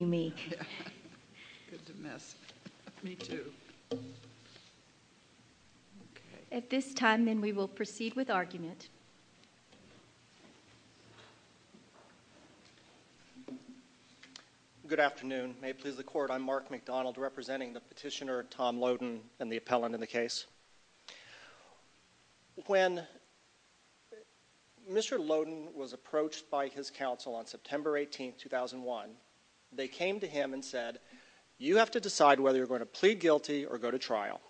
Good afternoon. May it please the Court, I'm Mark McDonald, representing the petitioner Tom Loden and the appellant in the case. When Mr. Loden was approached by his counsel on his trial, they came to him and said, you have to decide whether you're going to plead guilty or go to trial.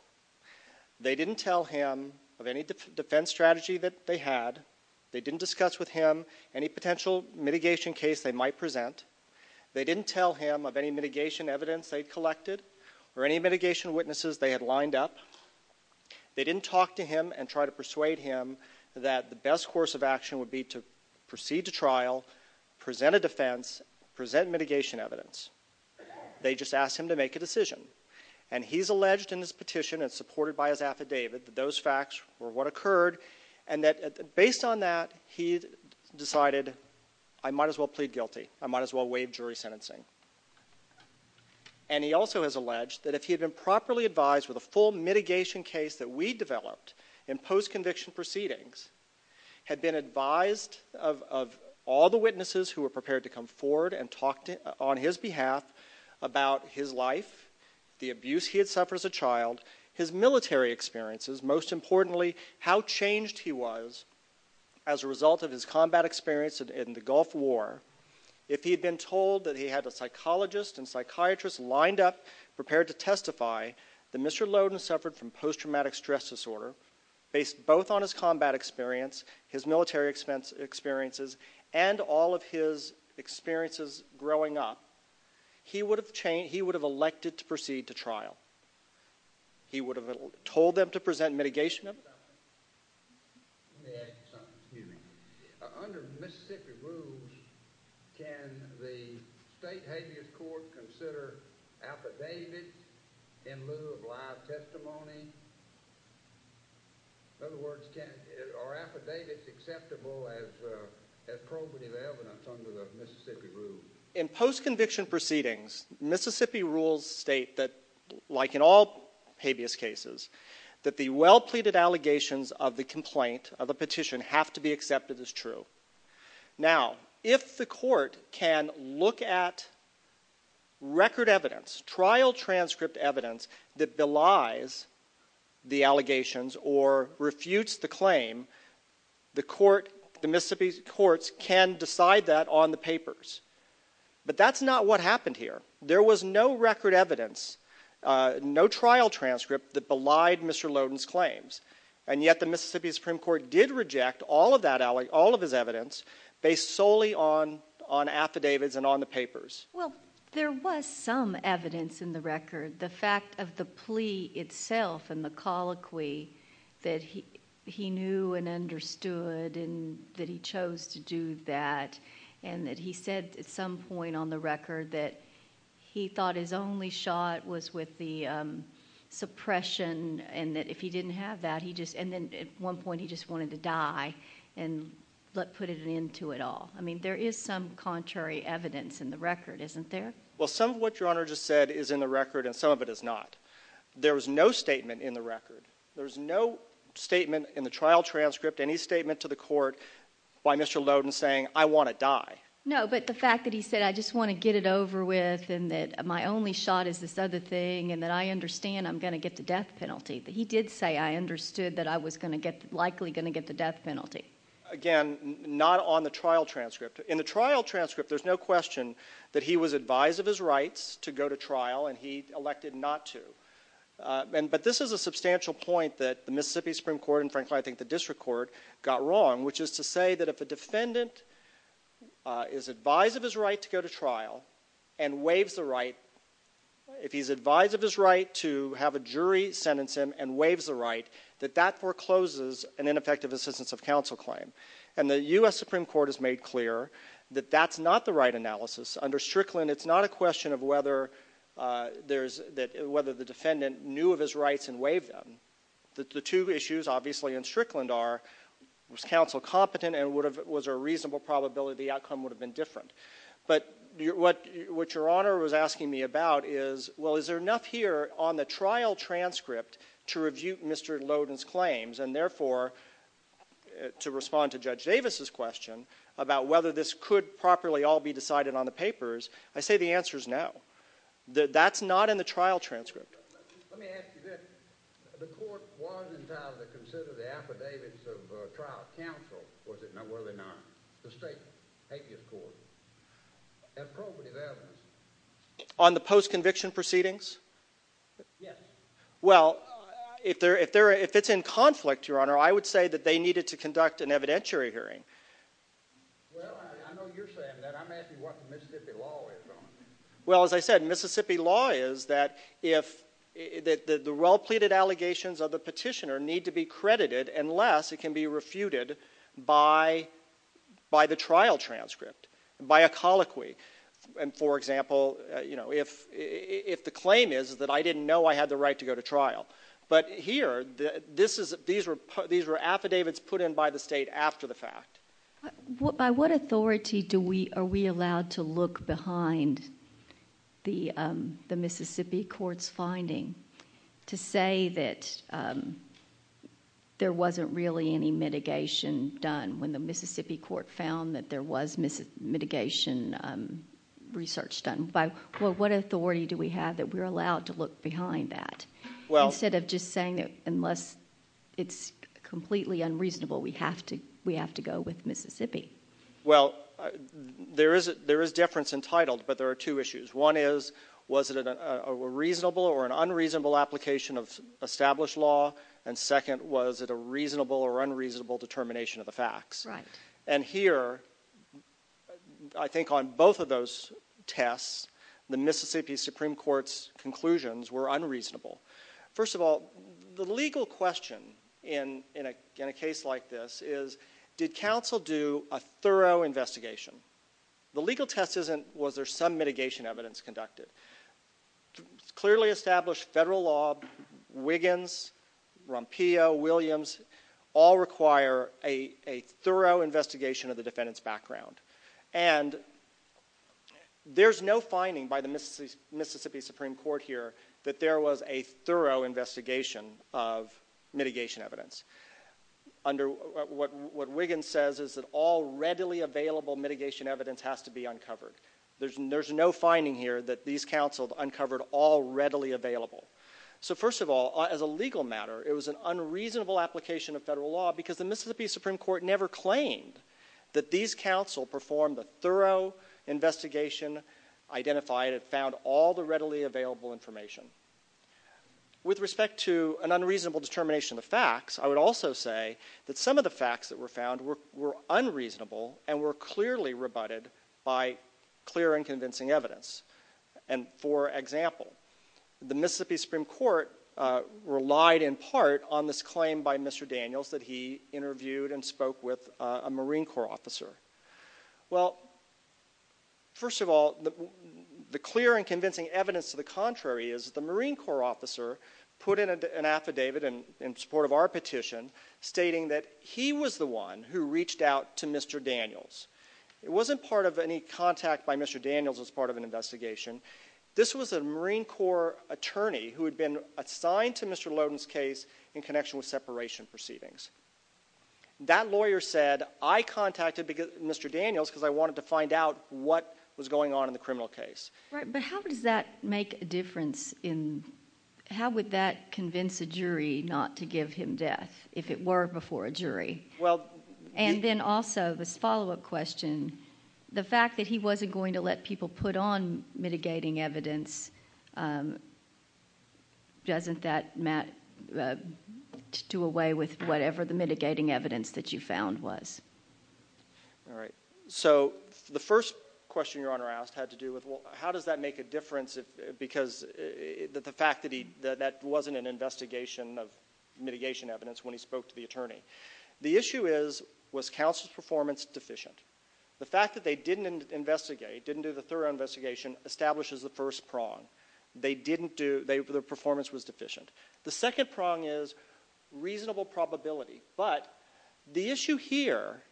They didn't tell him of any defense strategy that they had. They didn't discuss with him any potential mitigation case they might present. They didn't tell him of any mitigation evidence they'd collected or any mitigation witnesses they had lined up. They didn't talk to him and try to persuade him that the best course of action would be to proceed to trial, present a defense, present mitigation evidence. They just asked him to make a decision. And he's alleged in his petition and supported by his affidavit that those facts were what occurred, and that based on that, he decided, I might as well plead guilty. I might as well waive jury sentencing. And he also has alleged that if he had been properly advised with a full mitigation case that we developed in post-conviction proceedings, had been advised of all the witnesses who were prepared to come forward and talk on his behalf about his life, the abuse he had suffered as a child, his military experiences, most importantly how changed he was as a result of his combat experience in the Gulf War, if he had been told that he had a psychologist and psychiatrist lined up prepared to testify that Mr. Lowden suffered from post-traumatic stress disorder, based both on his combat experience, his military experiences, and all of his experiences growing up, he would have elected to proceed to trial. He would have told them to present mitigation evidence. Let me ask you something. Under Mississippi rules, can the state habeas court consider affidavits in lieu of live testimony? In other words, are affidavits acceptable as probative evidence under the Mississippi rules? In post-conviction proceedings, Mississippi rules state that, like in all habeas cases, that the well-pleaded allegations of the complaint, of the petition, have to be accepted as true. Now, if the court can look at record evidence, trial transcript evidence, that belies the allegations or refutes the claim, the Mississippi courts can decide that on the papers. But that's not what happened here. There was no record evidence, no trial transcript, that belied Mr. Lowden's claims. And yet the Mississippi Supreme Court did reject all of his evidence based solely on affidavits and on the papers. Well, there was some evidence in the record. The fact of the plea itself and the colloquy that he knew and understood and that he chose to do that and that he said at some point on the record that he thought his only shot was with the suppression and that if he didn't have that, he just, and then at one point he just wanted to die and put an end to it all. I mean, there is some contrary evidence in the record, isn't there? Well, some of what Your Honor just said is in the record and some of it is not. There was no statement in the record. There was no statement in the trial transcript, any statement to the court, by Mr. Lowden saying, I want to die. No, but the fact that he said, I just want to get it over with and that my only shot is this other thing and that I understand I'm going to get the death penalty. He did say I understood that I was likely going to get the death penalty. Again, not on the trial transcript. In the trial transcript, there's no question that he was advised of his rights to go to trial and he elected not to. But this is a substantial point that the Mississippi Supreme Court, and frankly I think the district court, got wrong, which is to say that if a defendant is advised of his right to go to trial and waives the right, if he's advised of his right to have a jury sentence him and waives the right, that that forecloses an ineffective assistance of counsel claim. And the U.S. Supreme Court has made clear that that's not the right analysis. Under Strickland, it's not a question of whether the defendant knew of his rights and waived them. The two issues obviously in Strickland are was counsel competent and was there a reasonable probability the outcome would have been different. But what Your Honor was asking me about is, well, is there enough here on the trial transcript to review Mr. Lowden's claims and therefore to respond to Judge Davis's question about whether this could properly all be decided on the papers, I say the answer is no. That's not in the trial transcript. Let me ask you this. The court was entitled to consider the affidavits of trial counsel, was it not? Well, they're not. The state habeas court. Appropriate evidence? On the post-conviction proceedings? Yes. Well, if it's in conflict, Your Honor, I would say that they needed to conduct an evidentiary hearing. Well, I know you're saying that. I'm asking what the Mississippi law is on it. Well, as I said, Mississippi law is that if the well-pleaded allegations of the petitioner need to be credited unless it can be refuted by the trial transcript, by a colloquy. And for example, you know, if the claim is that I didn't know I had the right to go to trial. But here, these were affidavits put in by the state after the fact. By what authority are we allowed to look behind the Mississippi court's finding to say that there wasn't really any mitigation done when the Mississippi court found that there was mitigation research done? By what authority do we have that we're allowed to look behind that instead of just saying that unless it's completely unreasonable, we have to go with Mississippi? Well, there is difference entitled, but there are two issues. One is, was it a reasonable or an unreasonable application of established law? And second, was it a reasonable or unreasonable determination of the facts? Right. And here, I think on both of those tests, the Mississippi Supreme Court's conclusions were unreasonable. First of all, the legal question in a case like this is, did counsel do a thorough investigation? The legal test isn't, was there some mitigation evidence conducted? Clearly established federal law, Wiggins, Rompillo, Williams, all require a thorough investigation of the defendant's background. And there's no finding by the Mississippi Supreme Court that there was a thorough investigation of mitigation evidence. Under what Wiggins says is that all readily available mitigation evidence has to be uncovered. There's no finding here that these counsels uncovered all readily available. So first of all, as a legal matter, it was an unreasonable application of federal law because the Mississippi Supreme Court never claimed that these counsel performed a thorough investigation, identified and found all the readily available information. With respect to an unreasonable determination of the facts, I would also say that some of the facts that were found were unreasonable and were clearly rebutted by clear and convincing evidence. And for example, the Mississippi Supreme Court relied in part on this claim by Mr. Daniels that he interviewed and spoke with a Marine Corps officer. Well, first of all, the clear and convincing evidence to the contrary is the Marine Corps officer put in an affidavit in support of our petition stating that he was the one who reached out to Mr. Daniels. It wasn't part of any contact by Mr. Daniels as part of an investigation. This was a Marine Corps attorney who had been assigned to Mr. Lowden's case in connection with separation proceedings. That lawyer said, I contacted Mr. Daniels because I wanted to find out what was going on in the criminal case. Right, but how does that make a difference in, how would that convince a jury not to give him death if it were before a jury? And then also, this follow-up question, the fact that he wasn't going to let people put on mitigating evidence, doesn't that do away with whatever the mitigating evidence that you found was? All right, so the first question Your Honor asked had to do with how does that make a difference because the fact that that wasn't an investigation of mitigation evidence when he spoke to the attorney. The issue is, was counsel's performance deficient? The fact that they didn't investigate, didn't do the thorough investigation, establishes the first prong. They didn't do, their performance was deficient. The second prong is reasonable probability, but the issue here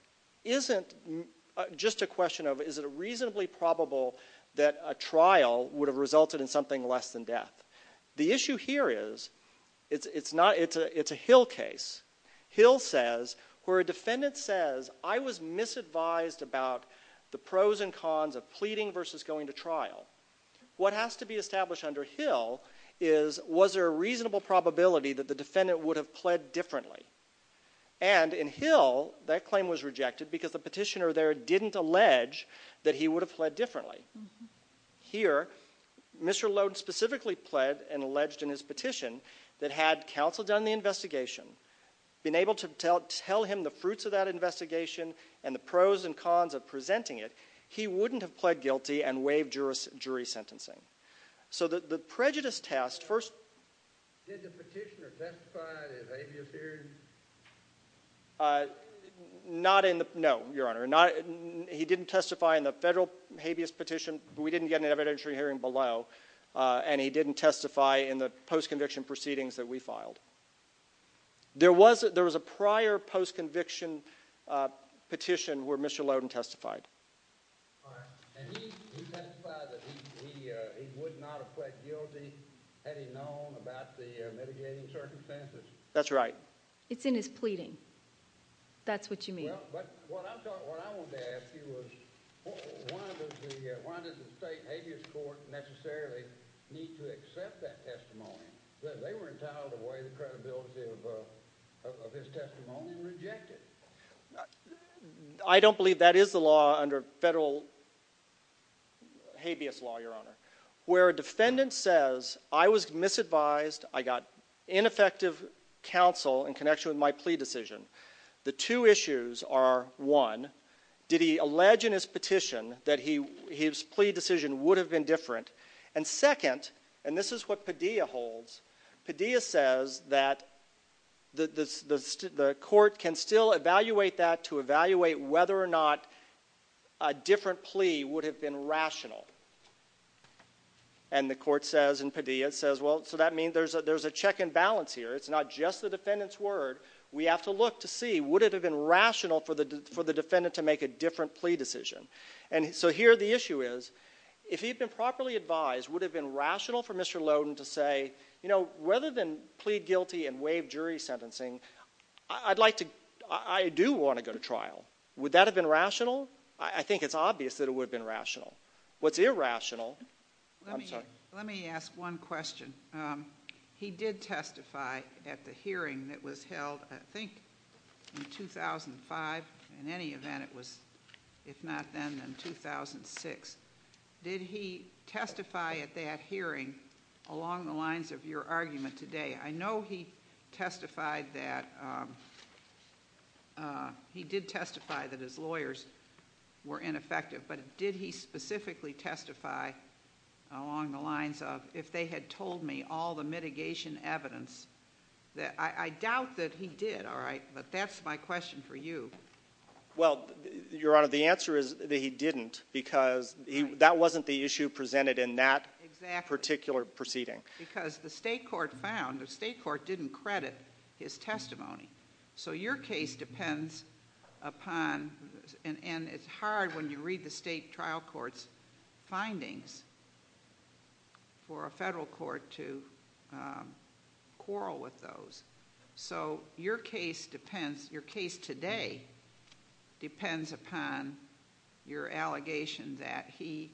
isn't just a question of is it reasonably probable that a trial would have resulted in something less than death. The issue here is, it's a Hill case. Hill says, where a defendant says, I was misadvised about the pros and cons of pleading versus going to trial. What has to be established under Hill is, was there a reasonable probability that the defendant would have pled differently? And in Hill, that claim was rejected because the petitioner there didn't allege that he would have pled differently. Here, Mr. Lode specifically pled and alleged in his petition that had counsel done the investigation, been able to tell him the fruits of that investigation and the pros and cons of presenting it, he wouldn't have pled guilty and waived jury sentencing. So the prejudice test first... Did the petitioner testify in his habeas hearing? Not in the, no, your honor. He didn't testify in the federal habeas petition. We didn't get an evidentiary hearing below, and he didn't testify in the post-conviction proceedings that we filed. There was a prior post-conviction petition where Mr. Loden testified. And he testified that he would not have pled guilty had he known about the mitigating circumstances. That's right. It's in his pleading. That's what you mean. Well, but what I wanted to ask you was, why does the state habeas court necessarily need to accept that testimony? They were entitled to weigh the credibility of his testimony and reject it. I don't believe that is the law under federal habeas law, your honor. Where a defendant says, I was misadvised, I got ineffective counsel in connection with my plea decision. The two issues are, one, did he allege in his petition that his plea decision would have been different? And second, and this is what Padilla holds, Padilla says that the court can still evaluate that to evaluate whether or not a different plea would have been rational. And the court says, and Padilla says, well, so that means there's a check and balance here. It's not just the defendant's word. We have to look to see, would it have been rational for the defendant to make a different plea decision? And so here the issue is, if he'd been properly advised, would it have been rational for Mr. Lowden to say, you know, rather than plead guilty and waive jury sentencing, I do want to go to trial. Would that have been rational? I think it's obvious that it would have been rational. What's irrational, I'm sorry. Let me ask one question. He did testify at the hearing that was held, I think, in 2005. In any event, it was, if not then, then 2006. Did he testify at that hearing along the lines of your argument today? I know he testified that... he did testify that his lawyers were ineffective, but did he specifically testify along the lines of, if they had told me all the mitigation evidence... I doubt that he did, all right, but that's my question for you. Well, Your Honor, the answer is that he didn't because that wasn't the issue presented in that... Exactly.... particular proceeding. Because the state court found, the state court didn't credit his testimony. So your case depends upon, and it's hard when you read the state trial court's findings, for a federal court to quarrel with those. So your case depends, your case today depends upon your allegation that he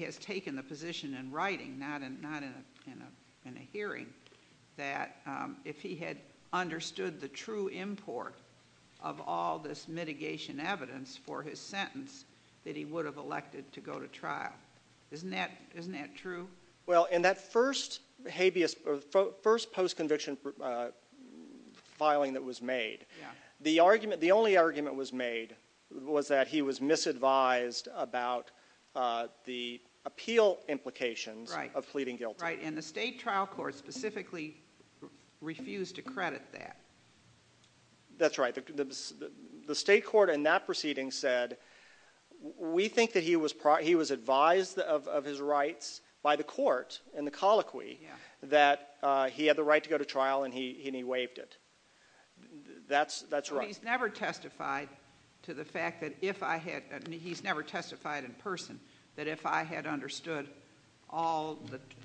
has taken the position in writing, not in a hearing, that if he had understood the true import of all this mitigation evidence for his sentence, that he would have been elected to go to trial. Isn't that true? Well, in that first habeas... first post-conviction filing that was made... Yeah.... the argument... the only argument was made was that he was misadvised about the appeal implications... Right.... of pleading guilty. Right. And the state trial court specifically refused to credit that. That's right. The state court in that proceeding said, we think that he was advised of his rights by the court in the colloquy... Yeah.... that he had the right to go to trial and he waived it. That's right. But he's never testified to the fact that if I had... he's never testified in person that if I had understood all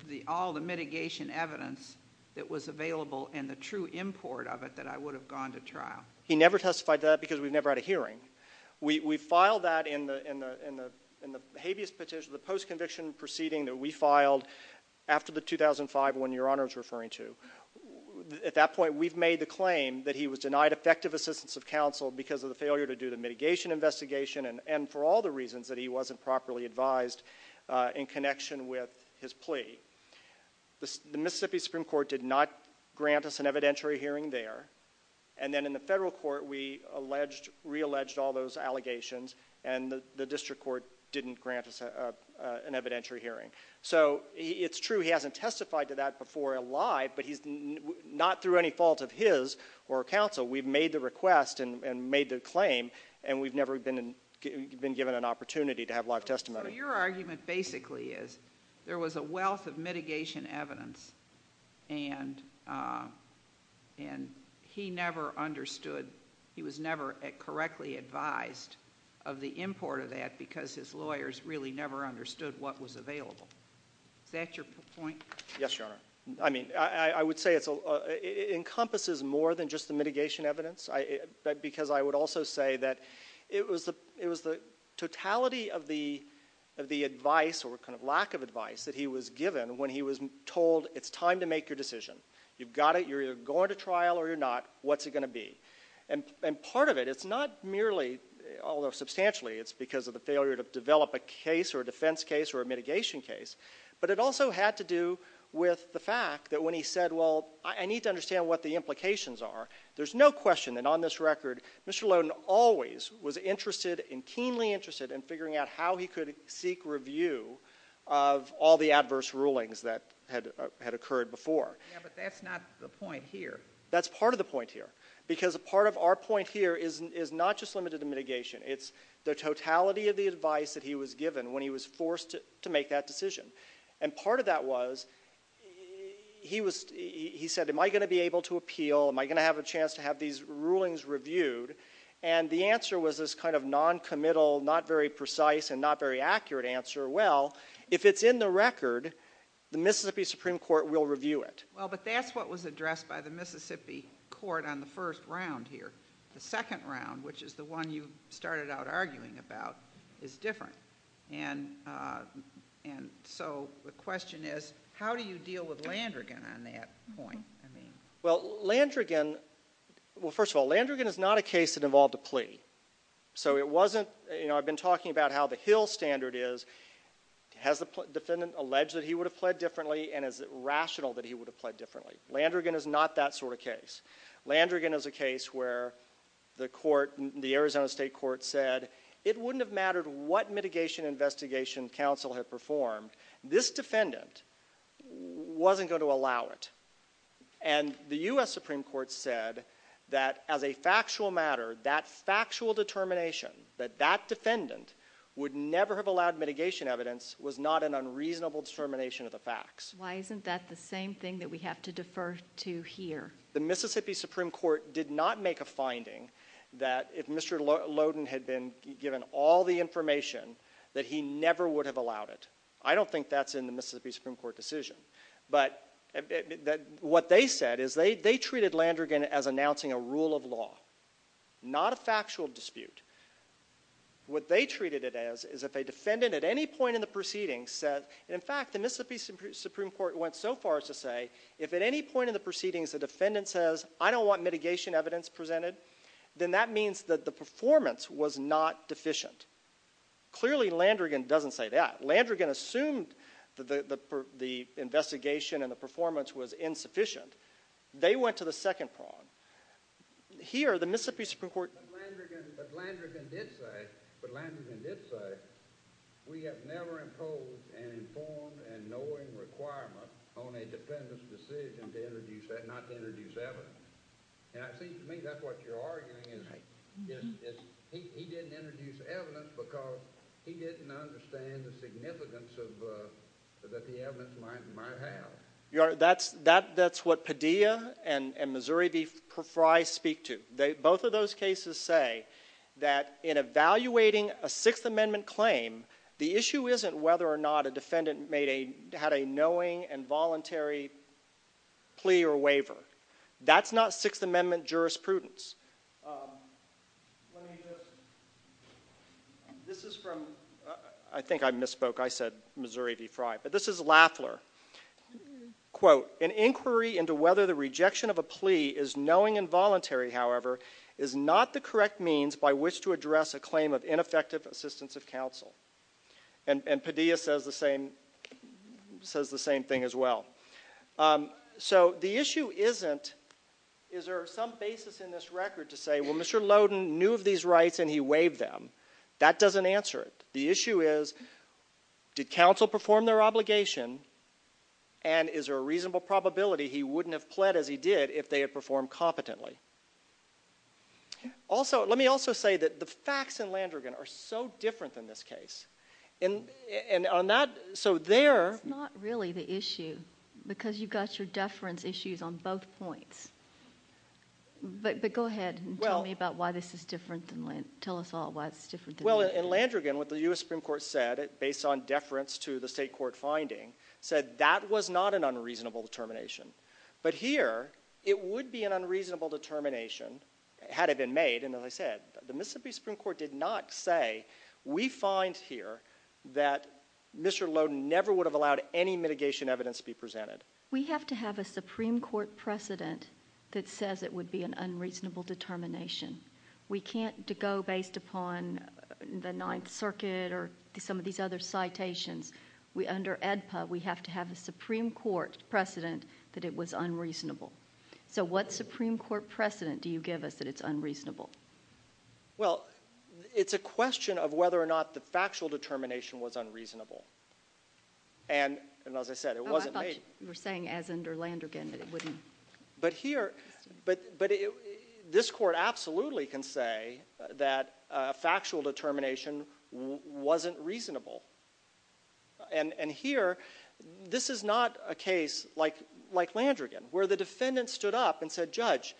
the mitigation evidence that was available and the true import of it, that I would have gone to trial. He never testified to that because we've never had a hearing. We filed that in the habeas petition, the post-conviction proceeding that we filed after the 2005 one Your Honor is referring to. At that point, we've made the claim that he was denied effective assistance of counsel because of the failure to do the mitigation investigation and for all the reasons that he wasn't properly advised in connection with his plea. The Mississippi Supreme Court did not grant us an evidentiary hearing there and then in the federal court, we re-alleged all those allegations and the district court didn't grant us an evidentiary hearing. So, it's true he hasn't testified to that before alive but he's not through any fault of his or counsel. We've made the request and made the claim and we've never been given an opportunity to have live testimony. So, your argument basically is there was a wealth of mitigation evidence and he never understood, he was never correctly advised of the import of that because his lawyers really never understood what was available. Is that your point? Yes, Your Honor. I mean, I would say it encompasses more than just the mitigation evidence because I would also say that it was the totality of the advice or kind of lack of advice that he was given when he was told, it's time to make your decision. You've got it, you're either going to trial or you're not, what's it going to be? And part of it, it's not merely, although substantially, it's because of the failure to develop a case or a defense case or a mitigation case, but it also had to do with the fact that when he said, well, I need to understand what the implications are, there's no question that on this record, Mr. Lowden always was interested and keenly interested in figuring out how he could seek review of all the adverse rulings that had occurred before. Yeah, but that's not the point here. That's part of the point here because part of our point here is not just limited to mitigation, it's the totality of the advice that he was given when he was forced to make that decision. And part of that was, he said, am I going to be able to appeal? Am I going to have a chance to have these rulings reviewed? And the answer was this kind of non-committal, not very precise and not very accurate answer. Well, if it's in the record, the Mississippi Supreme Court will review it. Well, but that's what was addressed by the Mississippi Court on the first round here. The second round, which is the one you started out arguing about, is different. And so the question is, how do you deal with Landrigan on that point? Well, Landrigan, well, first of all, Landrigan is not a case that involved a plea. So it wasn't, you know, I've been talking about how the Hill standard is, has the defendant alleged that he would have pled differently and is it rational that he would have pled differently? Landrigan is not that sort of case. Landrigan is a case where the court, the Arizona State Supreme Court said it wouldn't have mattered what mitigation investigation counsel had performed. This defendant wasn't going to allow it. And the U.S. Supreme Court said that as a factual matter, that factual determination that that defendant would never have allowed mitigation evidence was not an unreasonable determination of the facts. Why isn't that the same thing that we have to defer to here? The Mississippi Supreme Court did not make a finding that if Mr. Loden had been given all the information, that he never would have allowed it. I don't think that's in the Mississippi Supreme Court decision. But what they said is they treated Landrigan as announcing a rule of law, not a factual dispute. What they treated it as is if a defendant at any point in the proceedings said, in fact, the Mississippi Supreme Court went so far as to say, if at any point in the proceedings the defendant says, I don't want mitigation evidence presented, then that means that the performance was not deficient. Clearly Landrigan doesn't say that. Landrigan assumed the investigation and the performance was insufficient. They went to the second prong. Here, the Mississippi Supreme Court... But Landrigan did say, but Landrigan did say, we have never imposed an informed and knowing requirement on a defendant's decision not to introduce evidence. And it seems to me that's what you're arguing. He didn't introduce evidence because he didn't understand the significance that the evidence might have. Your Honor, that's what Padilla and Missouri v. Frey speak to. Both of those cases say that in evaluating a Sixth Amendment claim, the issue isn't whether or not a defendant had a knowing and voluntary plea or waiver. That's not Sixth Amendment jurisprudence. Let me just... This is from... I think I misspoke. I said Missouri v. Frey. But this is Lafler. Quote, an inquiry into whether the rejection of a plea is knowing and voluntary, however, is not the correct means by which to address a claim of ineffective assistance of counsel. And Padilla says the same thing as well. So the issue isn't, is there some basis in this record to say, well, Mr. Lowden knew of these rights and he waived them. That doesn't answer it. The issue is, did counsel perform their obligation, and is there a reasonable probability he wouldn't have pled as he did if they had performed competently? Also, let me also say that the facts in Landrigan are so different than this case. And on that, so there... It's not really the issue, because you've got your deference issues on both points. But go ahead and tell me about why this is different. Tell us all why it's different. Well, in Landrigan, what the U.S. Supreme Court said, based on deference to the state court finding, said that was not an unreasonable determination. But here, it would be an unreasonable determination had it been made. And as I said, the Mississippi Supreme Court did not say, we find here that Mr. Lowden never would have allowed any mitigation evidence to be presented. We have to have a Supreme Court precedent that says it would be an unreasonable determination. We can't go based upon the Ninth Circuit or some of these other citations. Under ADPA, we have to have a Supreme Court precedent that it was unreasonable. So what Supreme Court precedent do you give us that it's unreasonable? Well, it's a question of whether or not the factual determination was unreasonable. And as I said, it wasn't made. Oh, I thought you were saying, as under Landrigan, that it wouldn't... But here, this court absolutely can say that factual determination wasn't reasonable. And here, this is not a case like Landrigan, where the defendant stood up and said, Judge,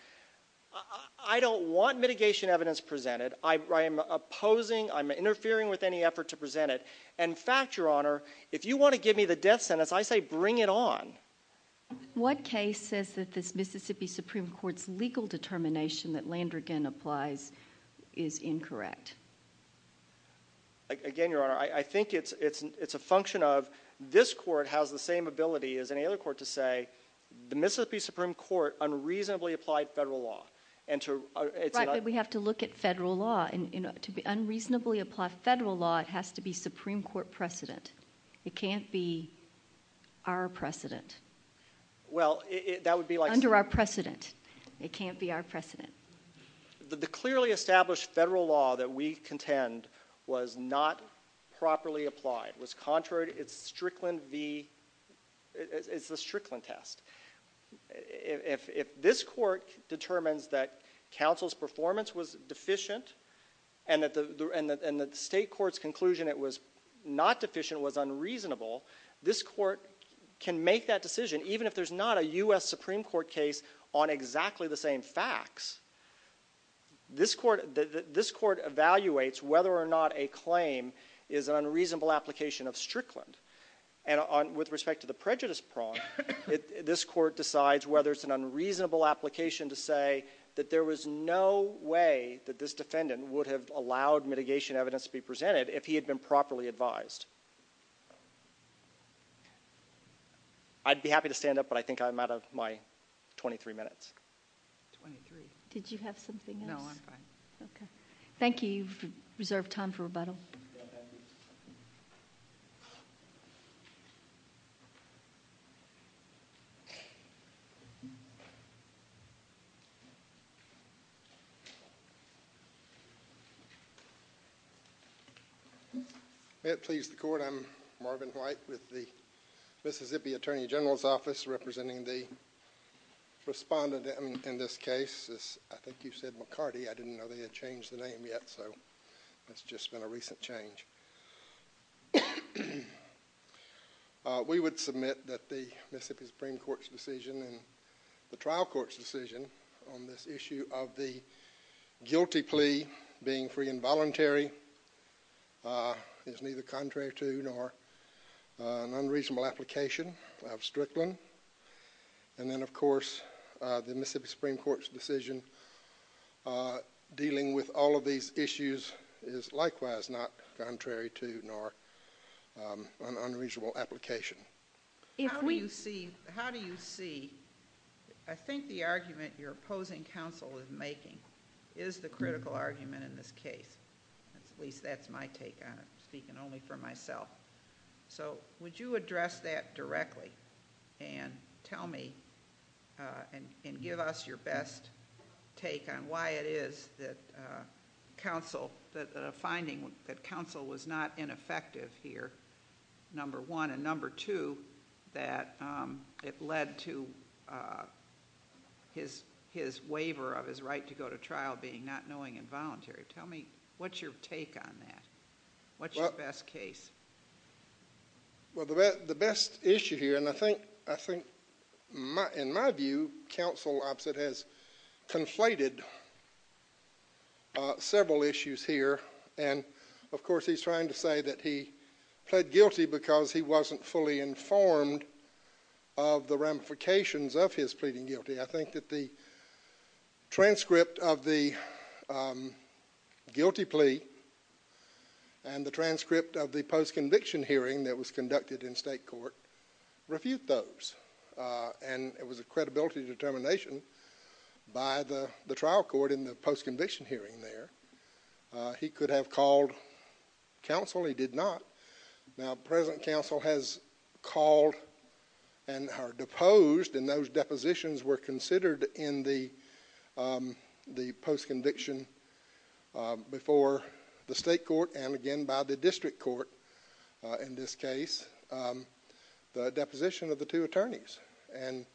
I don't want mitigation evidence presented. I am opposing, I'm interfering with any effort to present it. In fact, Your Honor, if you want to give me the death sentence, I say bring it on. What case says that this Mississippi Supreme Court's legal determination that Landrigan applies is incorrect? Again, Your Honor, I think it's a function of this court has the same ability as any other court to say, the Mississippi Supreme Court unreasonably applied federal law. Right, but we have to look at federal law. To unreasonably apply federal law, it has to be Supreme Court precedent. It can't be our precedent. Well, that would be like... Under our precedent. It can't be our precedent. The clearly established federal law that we contend was not properly applied. It was contrary to its Strickland v. It's the Strickland test. If this court determines that counsel's performance was deficient, and the state court's conclusion it was not deficient was unreasonable, this court can make that decision even if there's not a U.S. Supreme Court case on exactly the same facts. This court evaluates whether or not a claim is an unreasonable application of Strickland. And with respect to the prejudice prong, this court decides whether it's an unreasonable application to say that there was no way that this defendant would have allowed mitigation evidence to be presented if he had been properly advised. I'd be happy to stand up, but I think I'm out of my 23 minutes. 23. Did you have something else? No, I'm fine. Okay. Thank you. You've reserved time for rebuttal. May it please the Court. I'm Marvin White with the Mississippi Attorney General's Office representing the respondent in this case. I think you said McCarty. I didn't know they had changed the name yet, so it's just been a recent change. We would submit that the Mississippi Supreme Court's decision and the trial court's decision on this issue of the guilty plea being free and voluntary is neither contrary to nor an unreasonable application of Strickland. And then, of course, the Mississippi Supreme Court's decision dealing with all of these issues is likewise not contrary to nor an unreasonable application. How do you see... I think the argument your opposing counsel is making is the critical argument in this case. At least that's my take on it, speaking only for myself. Would you address that directly and tell me and give us your best take on why it is that finding that counsel was not ineffective here, number one, and number two, that it led to his waiver of his right to go to trial being not knowing and voluntary. Tell me what's your take on that. What's your best case? Well, the best issue here, and I think, in my view, counsel opposite has conflated several issues here. And, of course, he's trying to say that he pled guilty because he wasn't fully informed of the ramifications of his pleading guilty. I think that the transcript of the guilty plea and the transcript of the post-conviction hearing that was conducted in state court refute those. And it was a credibility determination by the trial court in the post-conviction hearing there. He could have called counsel. He did not. Now, present counsel has called and are deposed, and those depositions were considered in the post-conviction before the state court and, again, by the district court in this case, the deposition of the two attorneys. And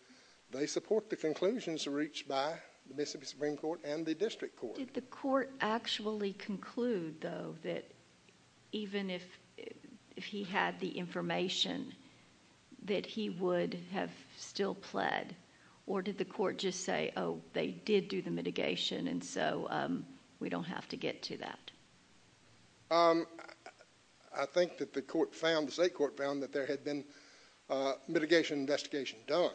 they support the conclusions reached by the Mississippi Supreme Court and the district court. What did the court actually conclude, though, that even if he had the information, that he would have still pled? Or did the court just say, oh, they did do the mitigation, and so we don't have to get to that? I think that the court found, the state court found, that there had been mitigation investigation done,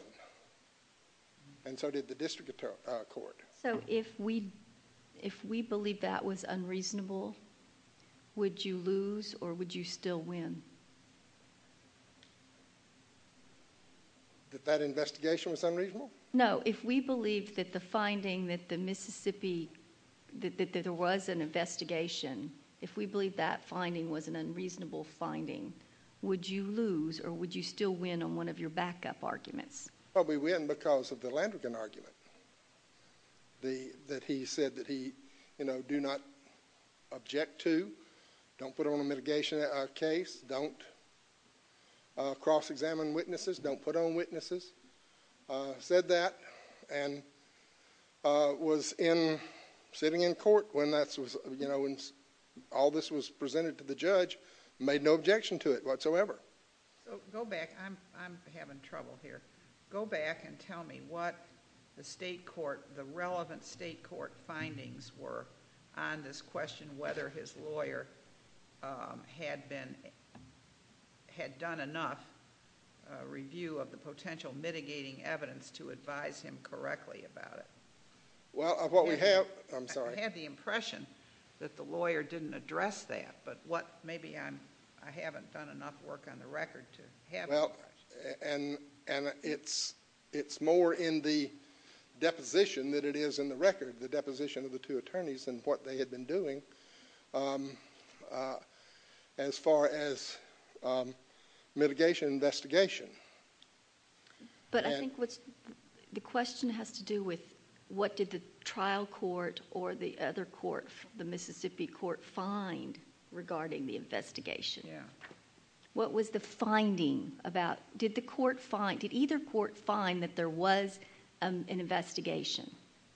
and so did the district court. So if we believe that was unreasonable, would you lose or would you still win? That that investigation was unreasonable? No, if we believe that the finding that the Mississippi, that there was an investigation, if we believe that finding was an unreasonable finding, would you lose or would you still win on one of your backup arguments? Probably win because of the Landrigan argument that he said that he, you know, do not object to, don't put on a mitigation case, don't cross-examine witnesses, don't put on witnesses, said that, and was in, sitting in court when that was, you know, when all this was presented to the judge, made no objection to it whatsoever. So go back. I'm having trouble here. Go back and tell me what the state court, the relevant state court findings were on this question, whether his lawyer had been, had done enough review of the potential mitigating evidence to advise him correctly about it. Well, of what we have, I'm sorry. I had the impression that the lawyer didn't address that, but what, maybe I'm, I haven't done enough work on the record to have the impression. Well, and it's more in the deposition that it is in the record, the deposition of the two attorneys and what they had been doing, as far as mitigation investigation. But I think what's, the question has to do with what did the trial court or the other court, the Mississippi court, find regarding the investigation? Yeah. What was the finding about, did the court find, did either court find that there was an investigation?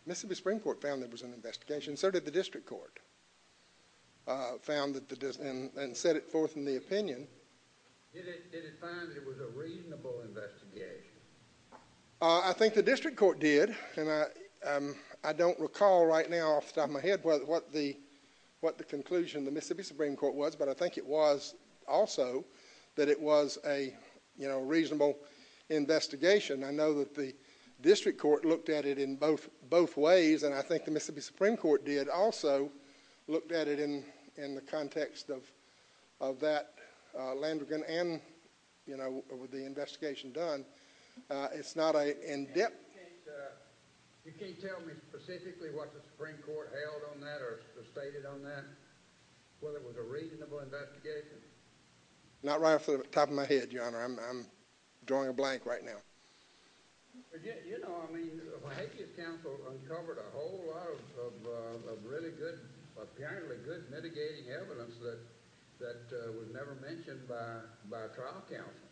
Mississippi Supreme Court found there was an investigation, so did the district court, found that the, and set it forth in the opinion. Did it, did it find that it was a reasonable investigation? I think the district court did, and I, I don't recall right now off the top of my head what the, what the conclusion of the Mississippi Supreme Court was, but I think it was also that it was a, you know, reasonable investigation. I know that the district court looked at it in both, both ways, and I think the Mississippi Supreme Court did also look at it in, in the context of, of that Landrigan and, you know, with the investigation done. It's not an in-depth. You can't, you can't tell me specifically what the Supreme Court held on that or stated on that, whether it was a reasonable investigation? Not right off the top of my head, Your Honor. I'm, I'm drawing a blank right now. But yet, you know, I mean, the Vallejo's counsel uncovered a whole lot of, of, of really good, apparently good mitigating evidence that, that was never mentioned by, by a trial counsel.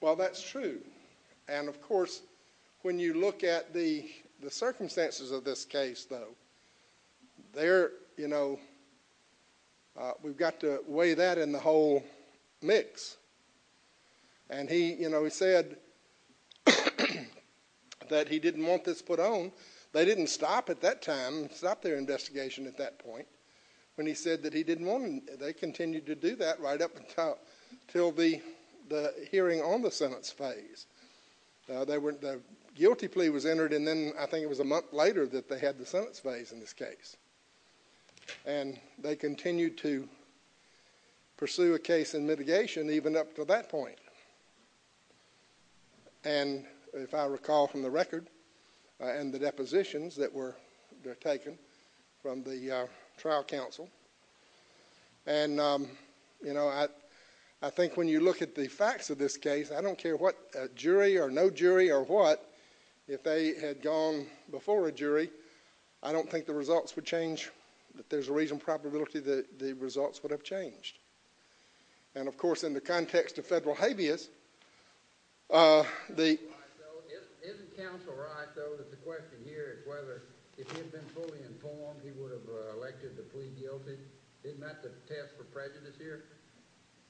Well, that's true, and of course, when you look at the, the circumstances of this case, though, there, you know, we've got to weigh that in the whole mix. And he, you know, he said that he didn't want this put on. They didn't stop at that time, stop their investigation at that point, when he said that he didn't want, they continued to do that right up until, until the, the hearing on the Senate's phase. They were, the guilty plea was entered, and then I think it was a month later that they had the Senate's phase in this case. And they continued to pursue a case in mitigation, even up to that point. And if I recall from the record, and the depositions that were taken from the trial counsel, and, you know, I, I think when you look at the facts of this case, I don't care what jury or no jury or what, if they had gone before a jury, I don't think the results would change, but there's a reasonable probability that the results would have changed. And of course, in the context of federal habeas, the...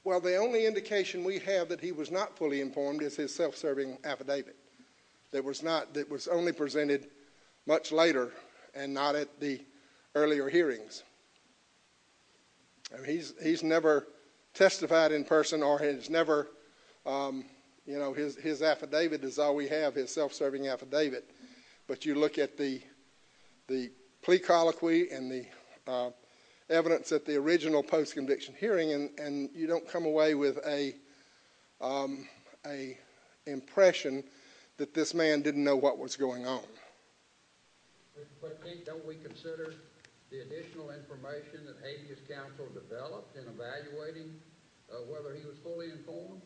Well, the only indication we have that he was not fully informed is his self-serving affidavit. That was not, that was only presented much later and not at the earlier hearings. And he's, he's never testified in person or has never, you know, his, his affidavit is all we have, his self-serving affidavit. But you look at the, the plea colloquy and the evidence at the original post-conviction hearing, and, and you don't come away with a, a impression that this man didn't know what was going on. But then don't we consider the additional information that habeas counsel developed in evaluating whether he was fully informed?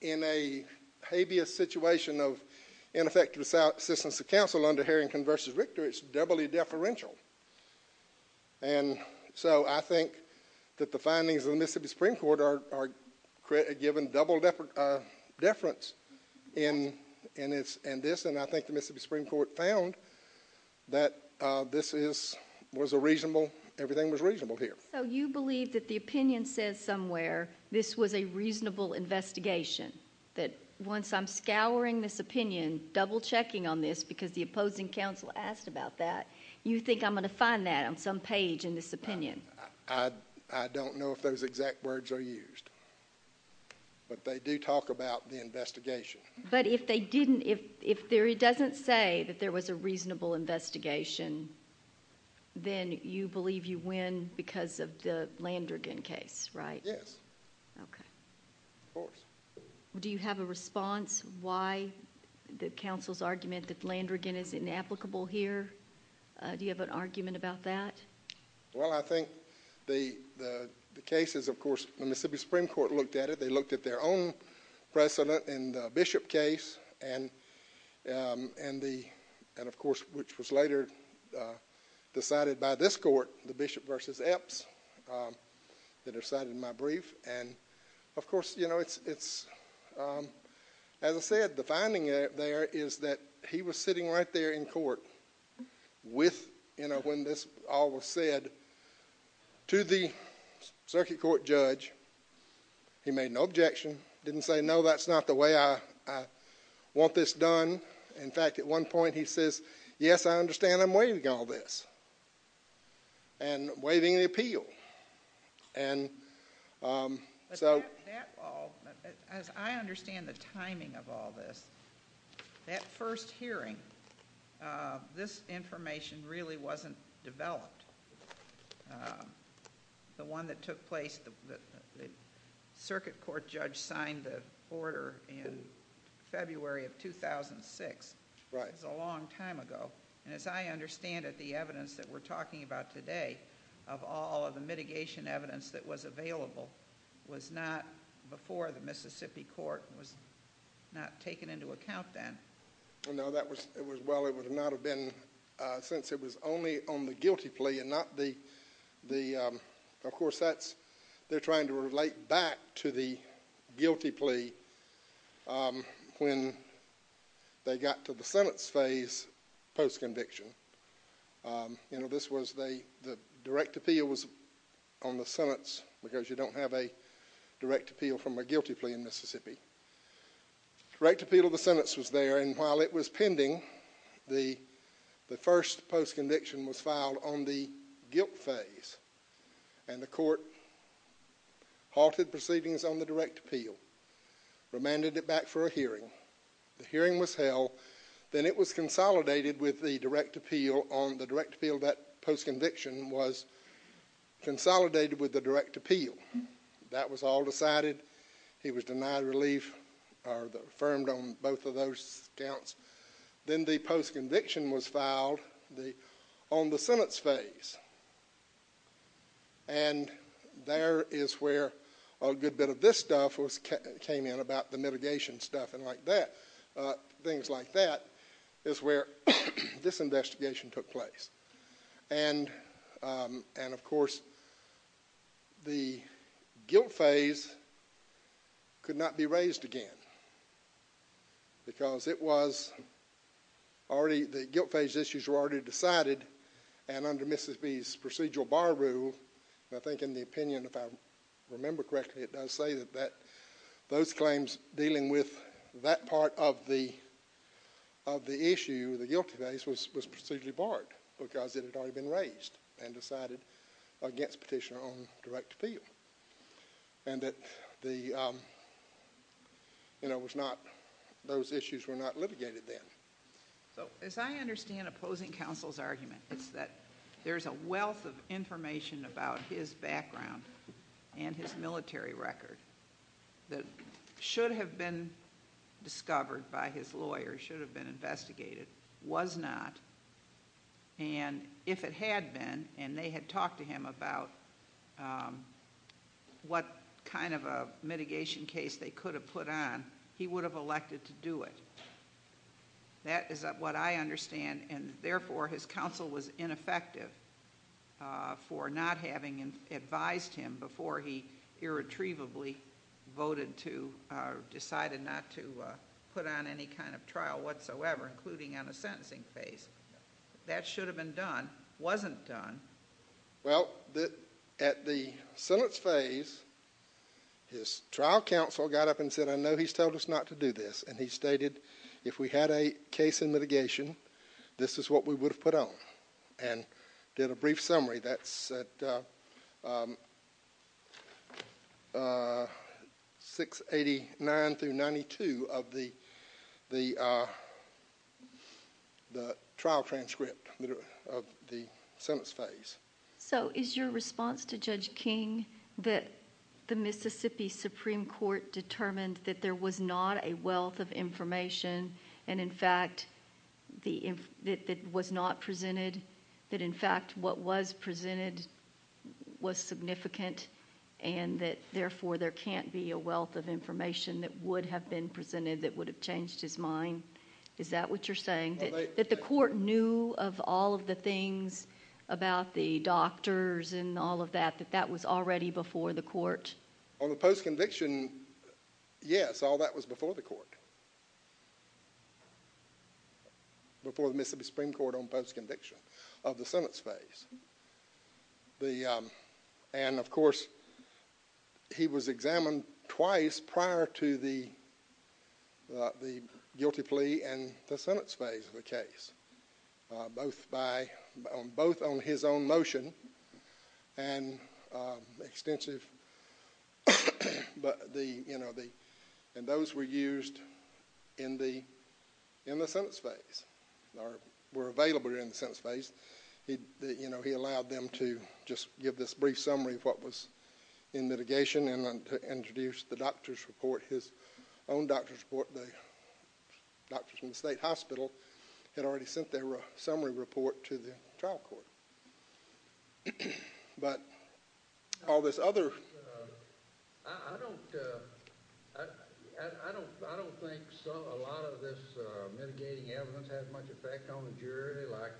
In a habeas situation of ineffective assistance to counsel under Harrington v. Richter, it's doubly deferential. And so I think that the findings of the Mississippi Supreme Court are, are given double deference in, in this. And I think the Mississippi Supreme Court found that this is, was a reasonable, everything was reasonable here. So you believe that the opinion says somewhere this was a reasonable investigation, that once I'm scouring this opinion, double-checking on this because the opposing counsel asked about that, you think I'm going to find that on some page in this opinion? I, I don't know if those exact words are used. But they do talk about the investigation. But if they didn't, if, if there, it doesn't say that there was a reasonable investigation, then you believe you win because of the Landrigan case, right? Yes. Okay. Of course. Do you have a response why the counsel's argument that Landrigan is inapplicable here? Do you have an argument about that? Well, I think the, the case is, of course, the Mississippi Supreme Court looked at it. There was some precedent in the Bishop case and, and the, and of course, which was later decided by this court, the Bishop versus Epps, that are cited in my brief. And of course, you know, it's, it's, as I said, the finding there is that he was sitting right there in court with, you know, when this all was said to the circuit court judge, he made no objection, didn't say, no, that's not the way I, I want this done. In fact, at one point he says, yes, I understand I'm waiving all this and waiving the appeal. And so. That, that all, as I understand the timing of all this, that first hearing, this information really wasn't developed. The one that took place, the, the circuit court judge signed the order in February of 2006. Right. It was a long time ago. And as I understand it, the evidence that we're talking about today, of all of the mitigation evidence that was available, was not before the Mississippi court was not taken into account then. No, that was, it was, well, it would not have been since it was only on the guilty plea and not the, the, of course that's, they're trying to relate back to the guilty plea. When they got to the sentence phase, post conviction, you know, this was the, the direct appeal was on the sentence, because you don't have a direct appeal from a guilty plea in Mississippi. Direct appeal of the sentence was there, and while it was pending, the, the first post conviction was filed on the guilt phase. And the court halted proceedings on the direct appeal, remanded it back for a hearing. The hearing was held. Then it was consolidated with the direct appeal on the direct appeal, that post conviction was consolidated with the direct appeal. That was all decided. He was denied relief, or affirmed on both of those counts. Then the post conviction was filed on the sentence phase. And there is where a good bit of this stuff came in about the mitigation stuff and like that. Things like that is where this investigation took place. And, and of course the guilt phase could not be raised again. Because it was already, the guilt phase issues were already decided, and under Mississippi's procedural bar rule, I think in the opinion, if I remember correctly, it does say that that, those claims dealing with that part of the, of the issue, the guilt phase, was procedurally barred because it had already been raised and decided against petitioner on direct appeal. And that the, you know, was not, those issues were not litigated then. So as I understand opposing counsel's argument, it's that there's a wealth of information about his background and his military record that should have been discovered by his lawyer, should have been investigated, was not. And if it had been, and they had talked to him about what kind of a mitigation case they could have put on, he would have elected to do it. That is what I understand, and therefore his counsel was ineffective for not having advised him before he irretrievably voted to, decided not to put on any kind of trial whatsoever, including on a sentencing phase. That should have been done, wasn't done. Well, at the sentence phase, his trial counsel got up and said, I know he's told us not to do this, and he stated, if we had a case in mitigation, this is what we would have put on. And did a brief summary, that's at 689 through 92 of the trial transcript of the sentence phase. So is your response to Judge King that the Mississippi Supreme Court determined that there was not a wealth of information, and in fact that was not presented, that in fact what was presented was significant, and that therefore there can't be a wealth of information that would have been presented that would have changed his mind? Is that what you're saying? That the court knew of all of the things about the doctors and all of that, that that was already before the court? On the post-conviction, yes, all that was before the court, before the Mississippi Supreme Court on post-conviction of the sentence phase. And of course, he was examined twice prior to the guilty plea and the sentence phase of the case, both on his own motion and extensive, and those were used in the sentence phase, or were available in the sentence phase. He allowed them to just give this brief summary of what was in mitigation and introduced the doctor's report, his own doctor's report. The doctors from the state hospital had already sent their summary report to the trial court. I don't think a lot of this mitigating evidence had much effect on the jury, like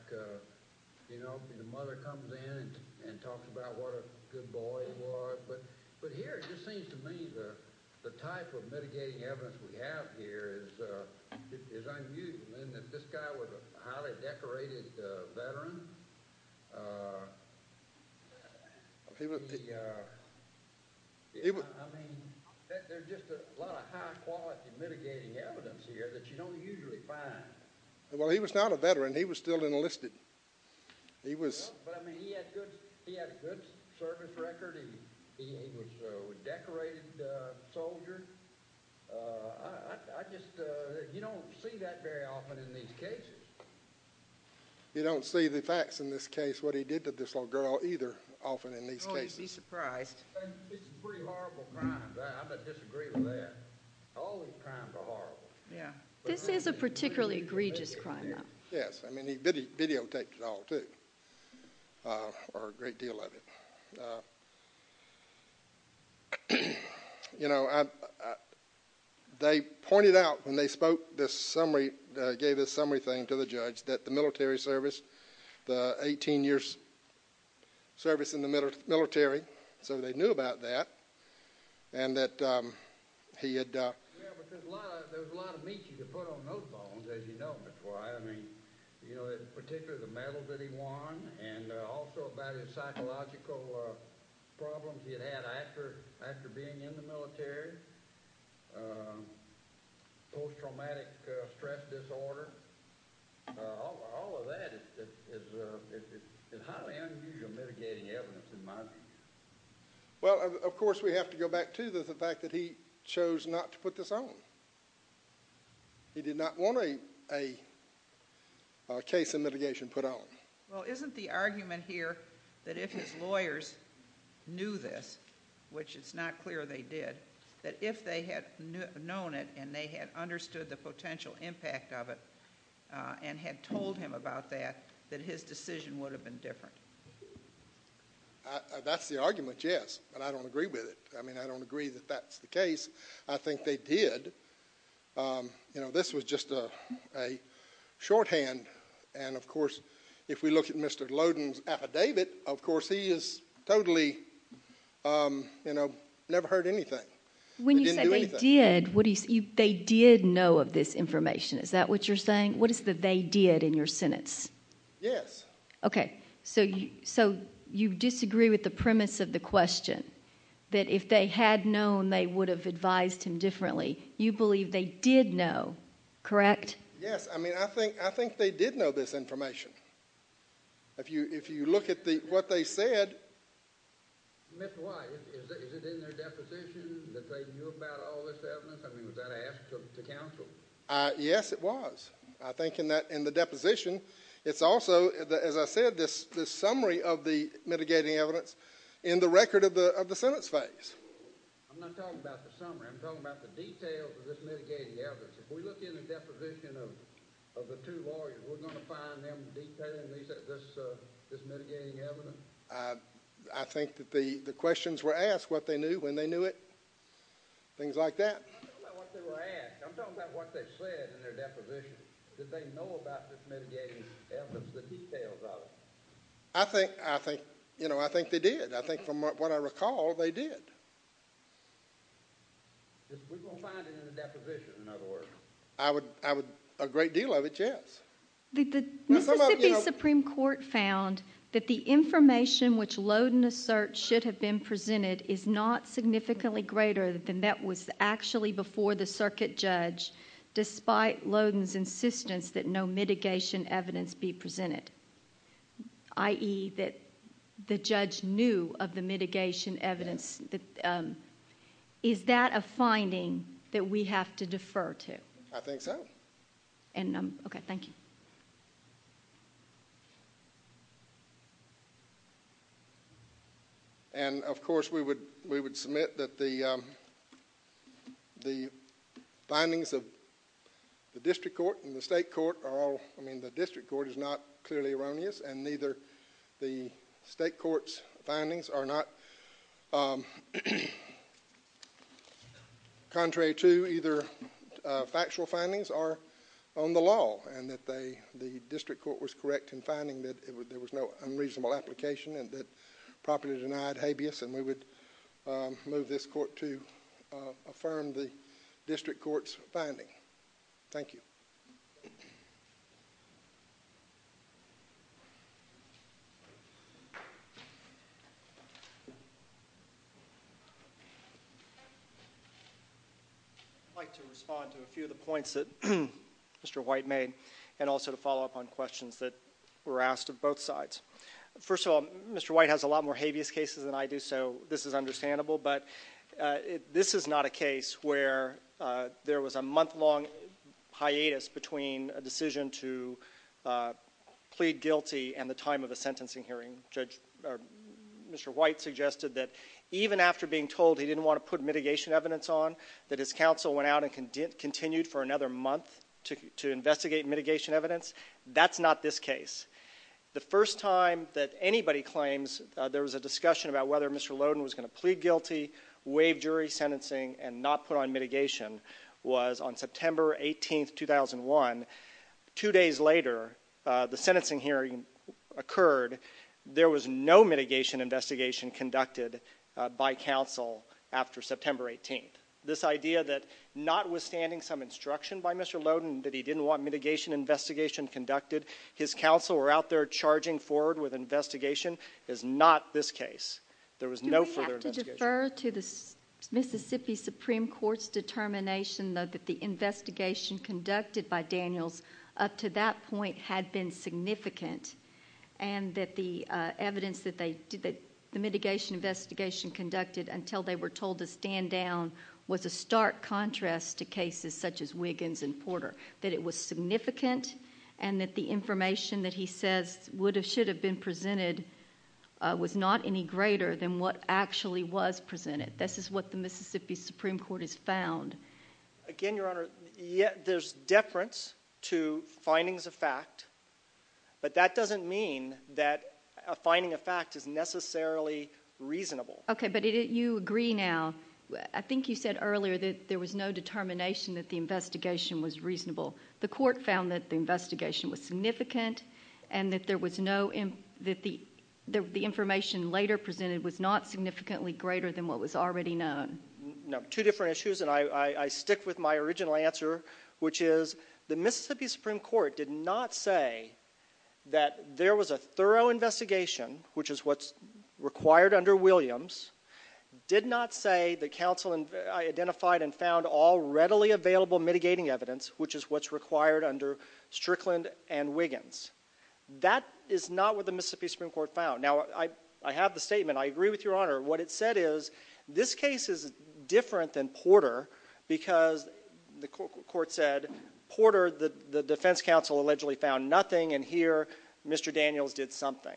the mother comes in and talks about what a good boy he was, but here it just seems to me the type of mitigating evidence we have here is unusual. This guy was a highly decorated veteran. There's just a lot of high-quality mitigating evidence here that you don't usually find. Well, he was not a veteran. He was still enlisted. He had a good service record. He was a decorated soldier. You don't see that very often in these cases. You don't see the facts in this case, what he did to this little girl, either often in these cases. Oh, you'd be surprised. It's a pretty horrible crime. I'm going to disagree with that. All these crimes are horrible. This is a particularly egregious crime, though. Yes. I mean, he videotaped it all, too, or a great deal of it. They pointed out when they gave this summary thing to the judge that the military service, the 18 years' service in the military, so they knew about that. Yes, because there was a lot of meat you could put on those bones, as you know. That's why, I mean, particularly the medals that he won and also about his psychological problems he had had after being in the military, post-traumatic stress disorder. All of that is highly unusual mitigating evidence, in my opinion. Well, of course, we have to go back to the fact that he chose not to put this on. He did not want a case of mitigation put on. Well, isn't the argument here that if his lawyers knew this, which it's not clear they did, that if they had known it and they had understood the potential impact of it and had told him about that, that his decision would have been different? That's the argument, yes, and I don't agree with it. I mean, I don't agree that that's the case. I think they did. You know, this was just a shorthand, and of course, if we look at Mr. Loden's affidavit, of course, he has totally, you know, never heard anything. When you say they did, they did know of this information. Is that what you're saying? What is the they did in your sentence? Yes. Okay. So you disagree with the premise of the question, that if they had known they would have advised him differently, you believe they did know, correct? Yes. I mean, I think they did know this information. If you look at what they said. Mr. White, is it in their deposition that they knew about all this evidence? I mean, was that asked of the counsel? Yes, it was. I think in the deposition, it's also, as I said, this summary of the mitigating evidence in the record of the sentence phase. I'm not talking about the summary. I'm talking about the details of this mitigating evidence. If we look in the deposition of the two lawyers, we're going to find them detailing this mitigating evidence? I think that the questions were asked, what they knew, when they knew it, things like that. I'm talking about what they were asked. Did they know about this mitigating evidence, the details of it? I think they did. I think from what I recall, they did. We're going to find it in the deposition, in other words. A great deal of it, yes. The Mississippi Supreme Court found that the information which Loden asserts should have been presented is not significantly greater than that was actually before the circuit judge, despite Loden's insistence that no mitigation evidence be presented, i.e. that the judge knew of the mitigation evidence. Is that a finding that we have to defer to? I think so. Okay, thank you. And, of course, we would submit that the findings of the district court and the state court are all, I mean the district court is not clearly erroneous, and neither the state court's findings are not. Contrary to either factual findings or on the law, and that the district court was correct in finding that there was no unreasonable application and that properly denied habeas, and we would move this court to affirm the district court's finding. Thank you. I'd like to respond to a few of the points that Mr. White made and also to follow up on questions that were asked of both sides. First of all, Mr. White has a lot more habeas cases than I do, so this is understandable, but this is not a case where there was a month-long hiatus between a decision to plead guilty and the time of a sentencing hearing. Mr. White suggested that even after being told he didn't want to put mitigation evidence on, that his counsel went out and continued for another month to investigate mitigation evidence. That's not this case. The first time that anybody claims there was a discussion about whether Mr. Loden was going to plead guilty, waive jury sentencing, and not put on mitigation was on September 18, 2001. Two days later, the sentencing hearing occurred. There was no mitigation investigation conducted by counsel after September 18. This idea that notwithstanding some instruction by Mr. Loden that he didn't want mitigation investigation conducted, his counsel were out there charging forward with investigation is not this case. There was no further investigation. Do we have to defer to the Mississippi Supreme Court's determination, though, that the investigation conducted by Daniels up to that point had been significant and that the mitigation investigation conducted until they were told to stand down was a stark contrast to cases such as Wiggins and Porter, that it was significant and that the information that he says should have been presented was not any greater than what actually was presented? This is what the Mississippi Supreme Court has found. Again, Your Honor, there's deference to findings of fact, but that doesn't mean that a finding of fact is necessarily reasonable. Okay, but you agree now. I think you said earlier that there was no determination that the investigation was reasonable. The court found that the investigation was significant and that the information later presented was not significantly greater than what was already known. No, two different issues, and I stick with my original answer, which is the Mississippi Supreme Court did not say that there was a thorough investigation, which is what's required under Williams, did not say that counsel identified and found all readily available mitigating evidence, which is what's required under Strickland and Wiggins. That is not what the Mississippi Supreme Court found. Now, I have the statement. I agree with Your Honor. What it said is this case is different than Porter because, the court said, Porter, the defense counsel allegedly found nothing, and here Mr. Daniels did something.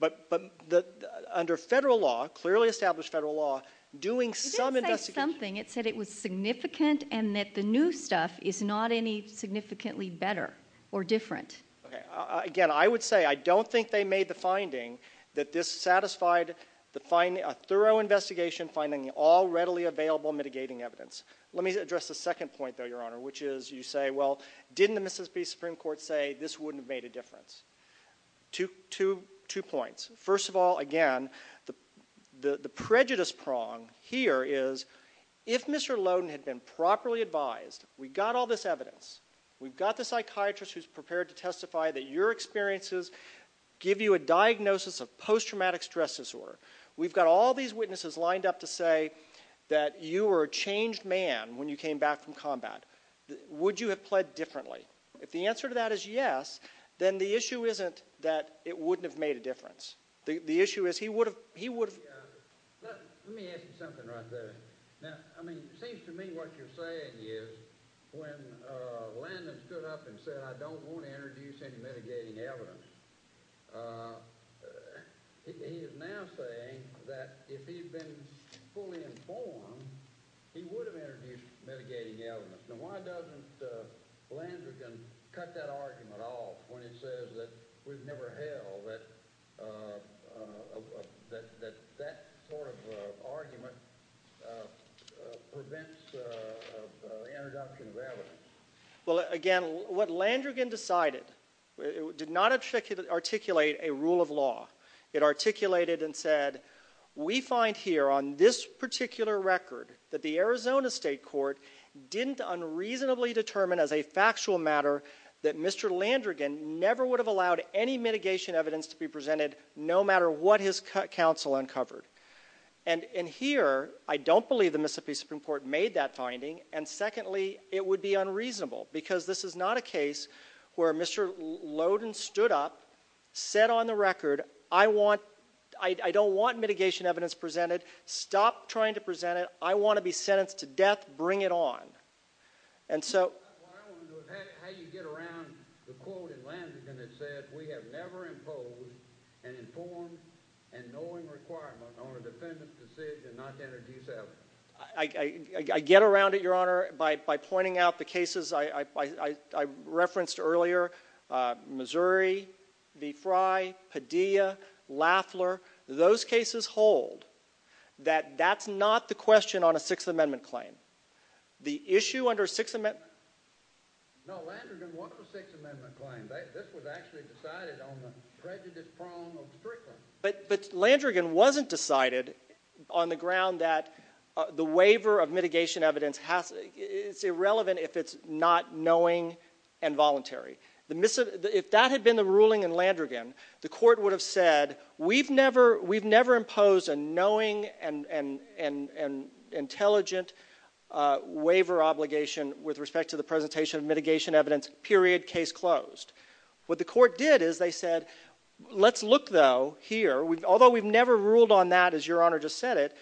But under federal law, clearly established federal law, doing some investigation— not any significantly better or different. Again, I would say I don't think they made the finding that this satisfied a thorough investigation, finding all readily available mitigating evidence. Let me address the second point, though, Your Honor, which is you say, well, didn't the Mississippi Supreme Court say this wouldn't have made a difference? Two points. First of all, again, the prejudice prong here is if Mr. Lowden had been properly advised, we've got all this evidence, we've got the psychiatrist who's prepared to testify that your experiences give you a diagnosis of post-traumatic stress disorder. We've got all these witnesses lined up to say that you were a changed man when you came back from combat. Would you have pled differently? If the answer to that is yes, then the issue isn't that it wouldn't have made a difference. The issue is he would have— Let me ask you something right there. Now, I mean, it seems to me what you're saying is when Landon stood up and said, I don't want to introduce any mitigating evidence, he is now saying that if he'd been fully informed, he would have introduced mitigating evidence. Now, why doesn't Landon cut that argument off when he says that we've never held that that that sort of argument prevents the introduction of evidence? Well, again, what Landrigan decided did not articulate a rule of law. It articulated and said, we find here on this particular record that the Arizona State Court didn't unreasonably determine as a factual matter that Mr. Landrigan never would have allowed any mitigation evidence to be presented no matter what his counsel uncovered. And here, I don't believe the Mississippi Supreme Court made that finding, and secondly, it would be unreasonable because this is not a case where Mr. Lowden stood up, said on the record, I don't want mitigation evidence presented. Stop trying to present it. I want to be sentenced to death. Bring it on. I want to know how you get around the quote that Landrigan has said, we have never imposed an informed and knowing requirement on a defendant's decision not to introduce evidence. I get around it, Your Honor, by pointing out the cases I referenced earlier. Missouri v. Frye, Padilla, Lafler, those cases hold that that's not the question on a Sixth Amendment claim. The issue under Sixth Amendment? No, Landrigan wants a Sixth Amendment claim. This was actually decided on the prejudice prong of Strickland. But Landrigan wasn't decided on the ground that the waiver of mitigation evidence is irrelevant if it's not knowing and voluntary. If that had been the ruling in Landrigan, the court would have said, we've never imposed a knowing and intelligent waiver obligation with respect to the presentation of mitigation evidence, period, case closed. What the court did is they said, let's look, though, here. Although we've never ruled on that, as Your Honor just said it,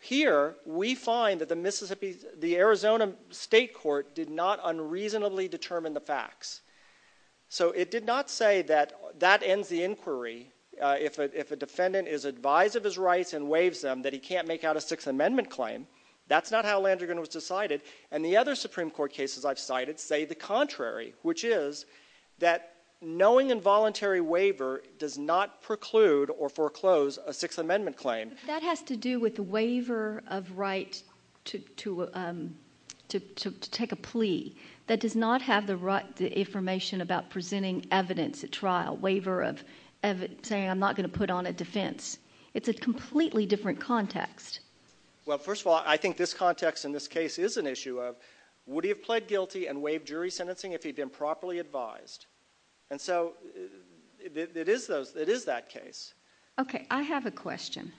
here we find that the Arizona State Court did not unreasonably determine the facts. So it did not say that that ends the inquiry if a defendant is advised of his rights and waives them that he can't make out a Sixth Amendment claim. That's not how Landrigan was decided. And the other Supreme Court cases I've cited say the contrary, which is that knowing and voluntary waiver does not preclude or foreclose a Sixth Amendment claim. That has to do with the waiver of right to take a plea. That does not have the information about presenting evidence at trial, waiver of saying I'm not going to put on a defense. It's a completely different context. Well, first of all, I think this context in this case is an issue of would he have pled guilty and waived jury sentencing if he'd been properly advised? And so it is that case. Okay, I have a question.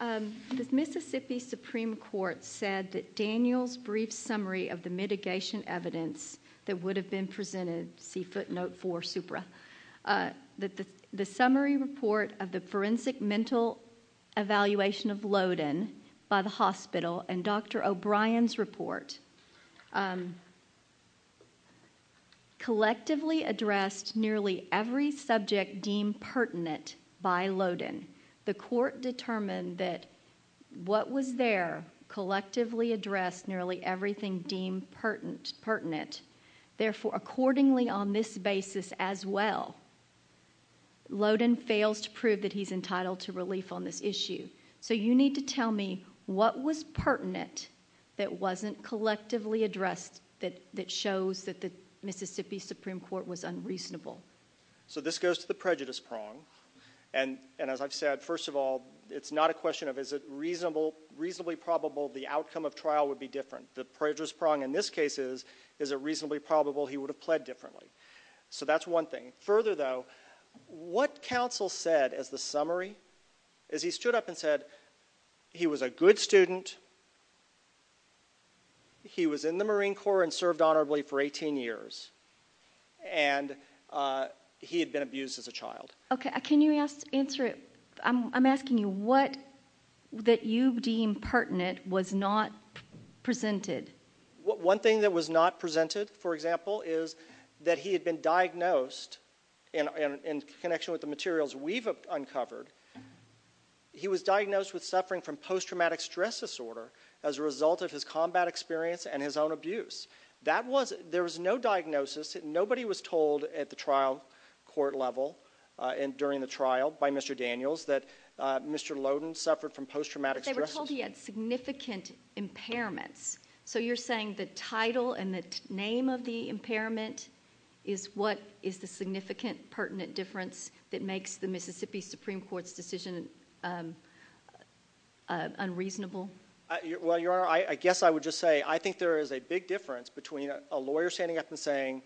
The Mississippi Supreme Court said that Daniel's brief summary of the mitigation evidence that would have been presented, see footnote 4, supra, that the summary report of the forensic mental evaluation of Loden by the hospital and Dr. O'Brien's report collectively addressed nearly every subject deemed pertinent by Loden. The court determined that what was there collectively addressed nearly everything deemed pertinent. Therefore, accordingly on this basis as well, Loden fails to prove that he's entitled to relief on this issue. So you need to tell me what was pertinent that wasn't collectively addressed that shows that the Mississippi Supreme Court was unreasonable. So this goes to the prejudice prong. And as I've said, first of all, it's not a question of is it reasonably probable the outcome of trial would be different. The prejudice prong in this case is is it reasonably probable he would have pled differently. So that's one thing. Further, though, what counsel said as the summary, as he stood up and said he was a good student, he was in the Marine Corps and served honorably for 18 years, and he had been abused as a child. Okay, can you answer it? I'm asking you what that you deem pertinent was not presented. One thing that was not presented, for example, is that he had been diagnosed in connection with the materials we've uncovered. He was diagnosed with suffering from post-traumatic stress disorder as a result of his combat experience and his own abuse. There was no diagnosis. Nobody was told at the trial court level during the trial by Mr. Daniels that Mr. Loden suffered from post-traumatic stress disorder. They were told he had significant impairments. So you're saying the title and the name of the impairment is what is the significant pertinent difference that makes the Mississippi Supreme Court's decision unreasonable? Well, Your Honor, I guess I would just say I think there is a big difference between a lawyer standing up and saying,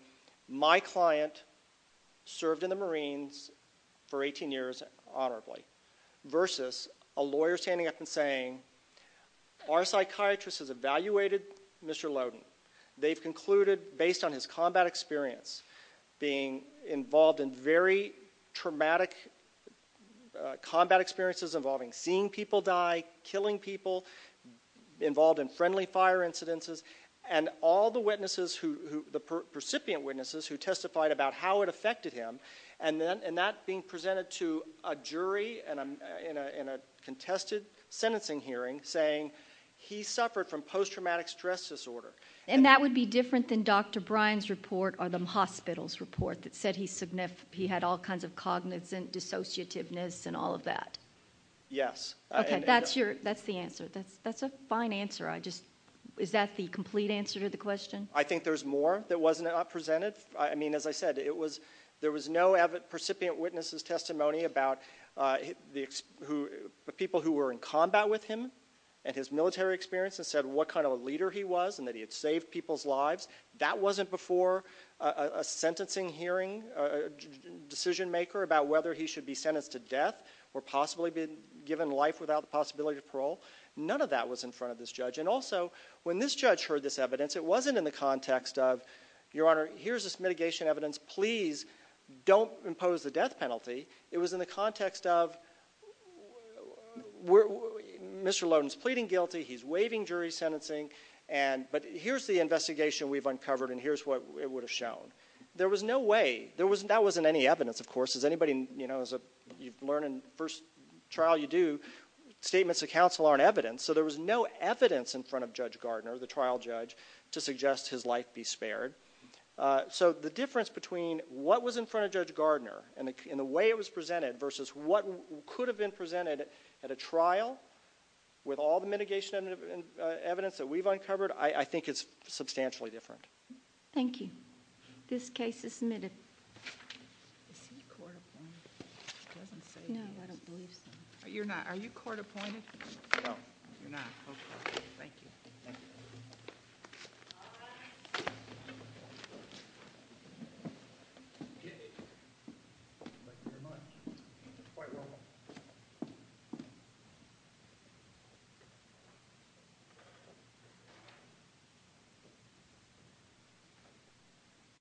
my client served in the Marines for 18 years honorably, versus a lawyer standing up and saying, our psychiatrist has evaluated Mr. Loden. They've concluded, based on his combat experience, being involved in very traumatic combat experiences involving seeing people die, killing people, involved in friendly fire incidences, and all the witnesses, the recipient witnesses who testified about how it affected him, and that being presented to a jury in a contested sentencing hearing saying he suffered from post-traumatic stress disorder. And that would be different than Dr. Bryan's report or the hospital's report that said he had all kinds of cognizant dissociativeness and all of that? Yes. Okay. That's the answer. That's a fine answer. Is that the complete answer to the question? I think there's more that wasn't presented. I mean, as I said, there was no percipient witnesses' testimony about the people who were in combat with him and his military experience and said what kind of a leader he was and that he had saved people's lives. That wasn't before a sentencing hearing, a decision maker about whether he should be sentenced to death or possibly be given life without the possibility of parole. None of that was in front of this judge. And also, when this judge heard this evidence, it wasn't in the context of, Your Honor, here's this mitigation evidence. Please don't impose the death penalty. It was in the context of Mr. Loden's pleading guilty. He's waiving jury sentencing. But here's the investigation we've uncovered, and here's what it would have shown. There was no way. That wasn't any evidence, of course. As you learn in the first trial you do, statements of counsel aren't evidence. So there was no evidence in front of Judge Gardner, the trial judge, to suggest his life be spared. So the difference between what was in front of Judge Gardner and the way it was presented versus what could have been presented at a trial with all the mitigation evidence that we've uncovered, I think it's substantially different. Thank you. This case is submitted. Is he court-appointed? He doesn't say he is. No, I don't believe so. You're not. Are you court-appointed? No. You're not. Okay. Thank you. Thank you. All rise. Okay. Thank you very much. That's quite normal.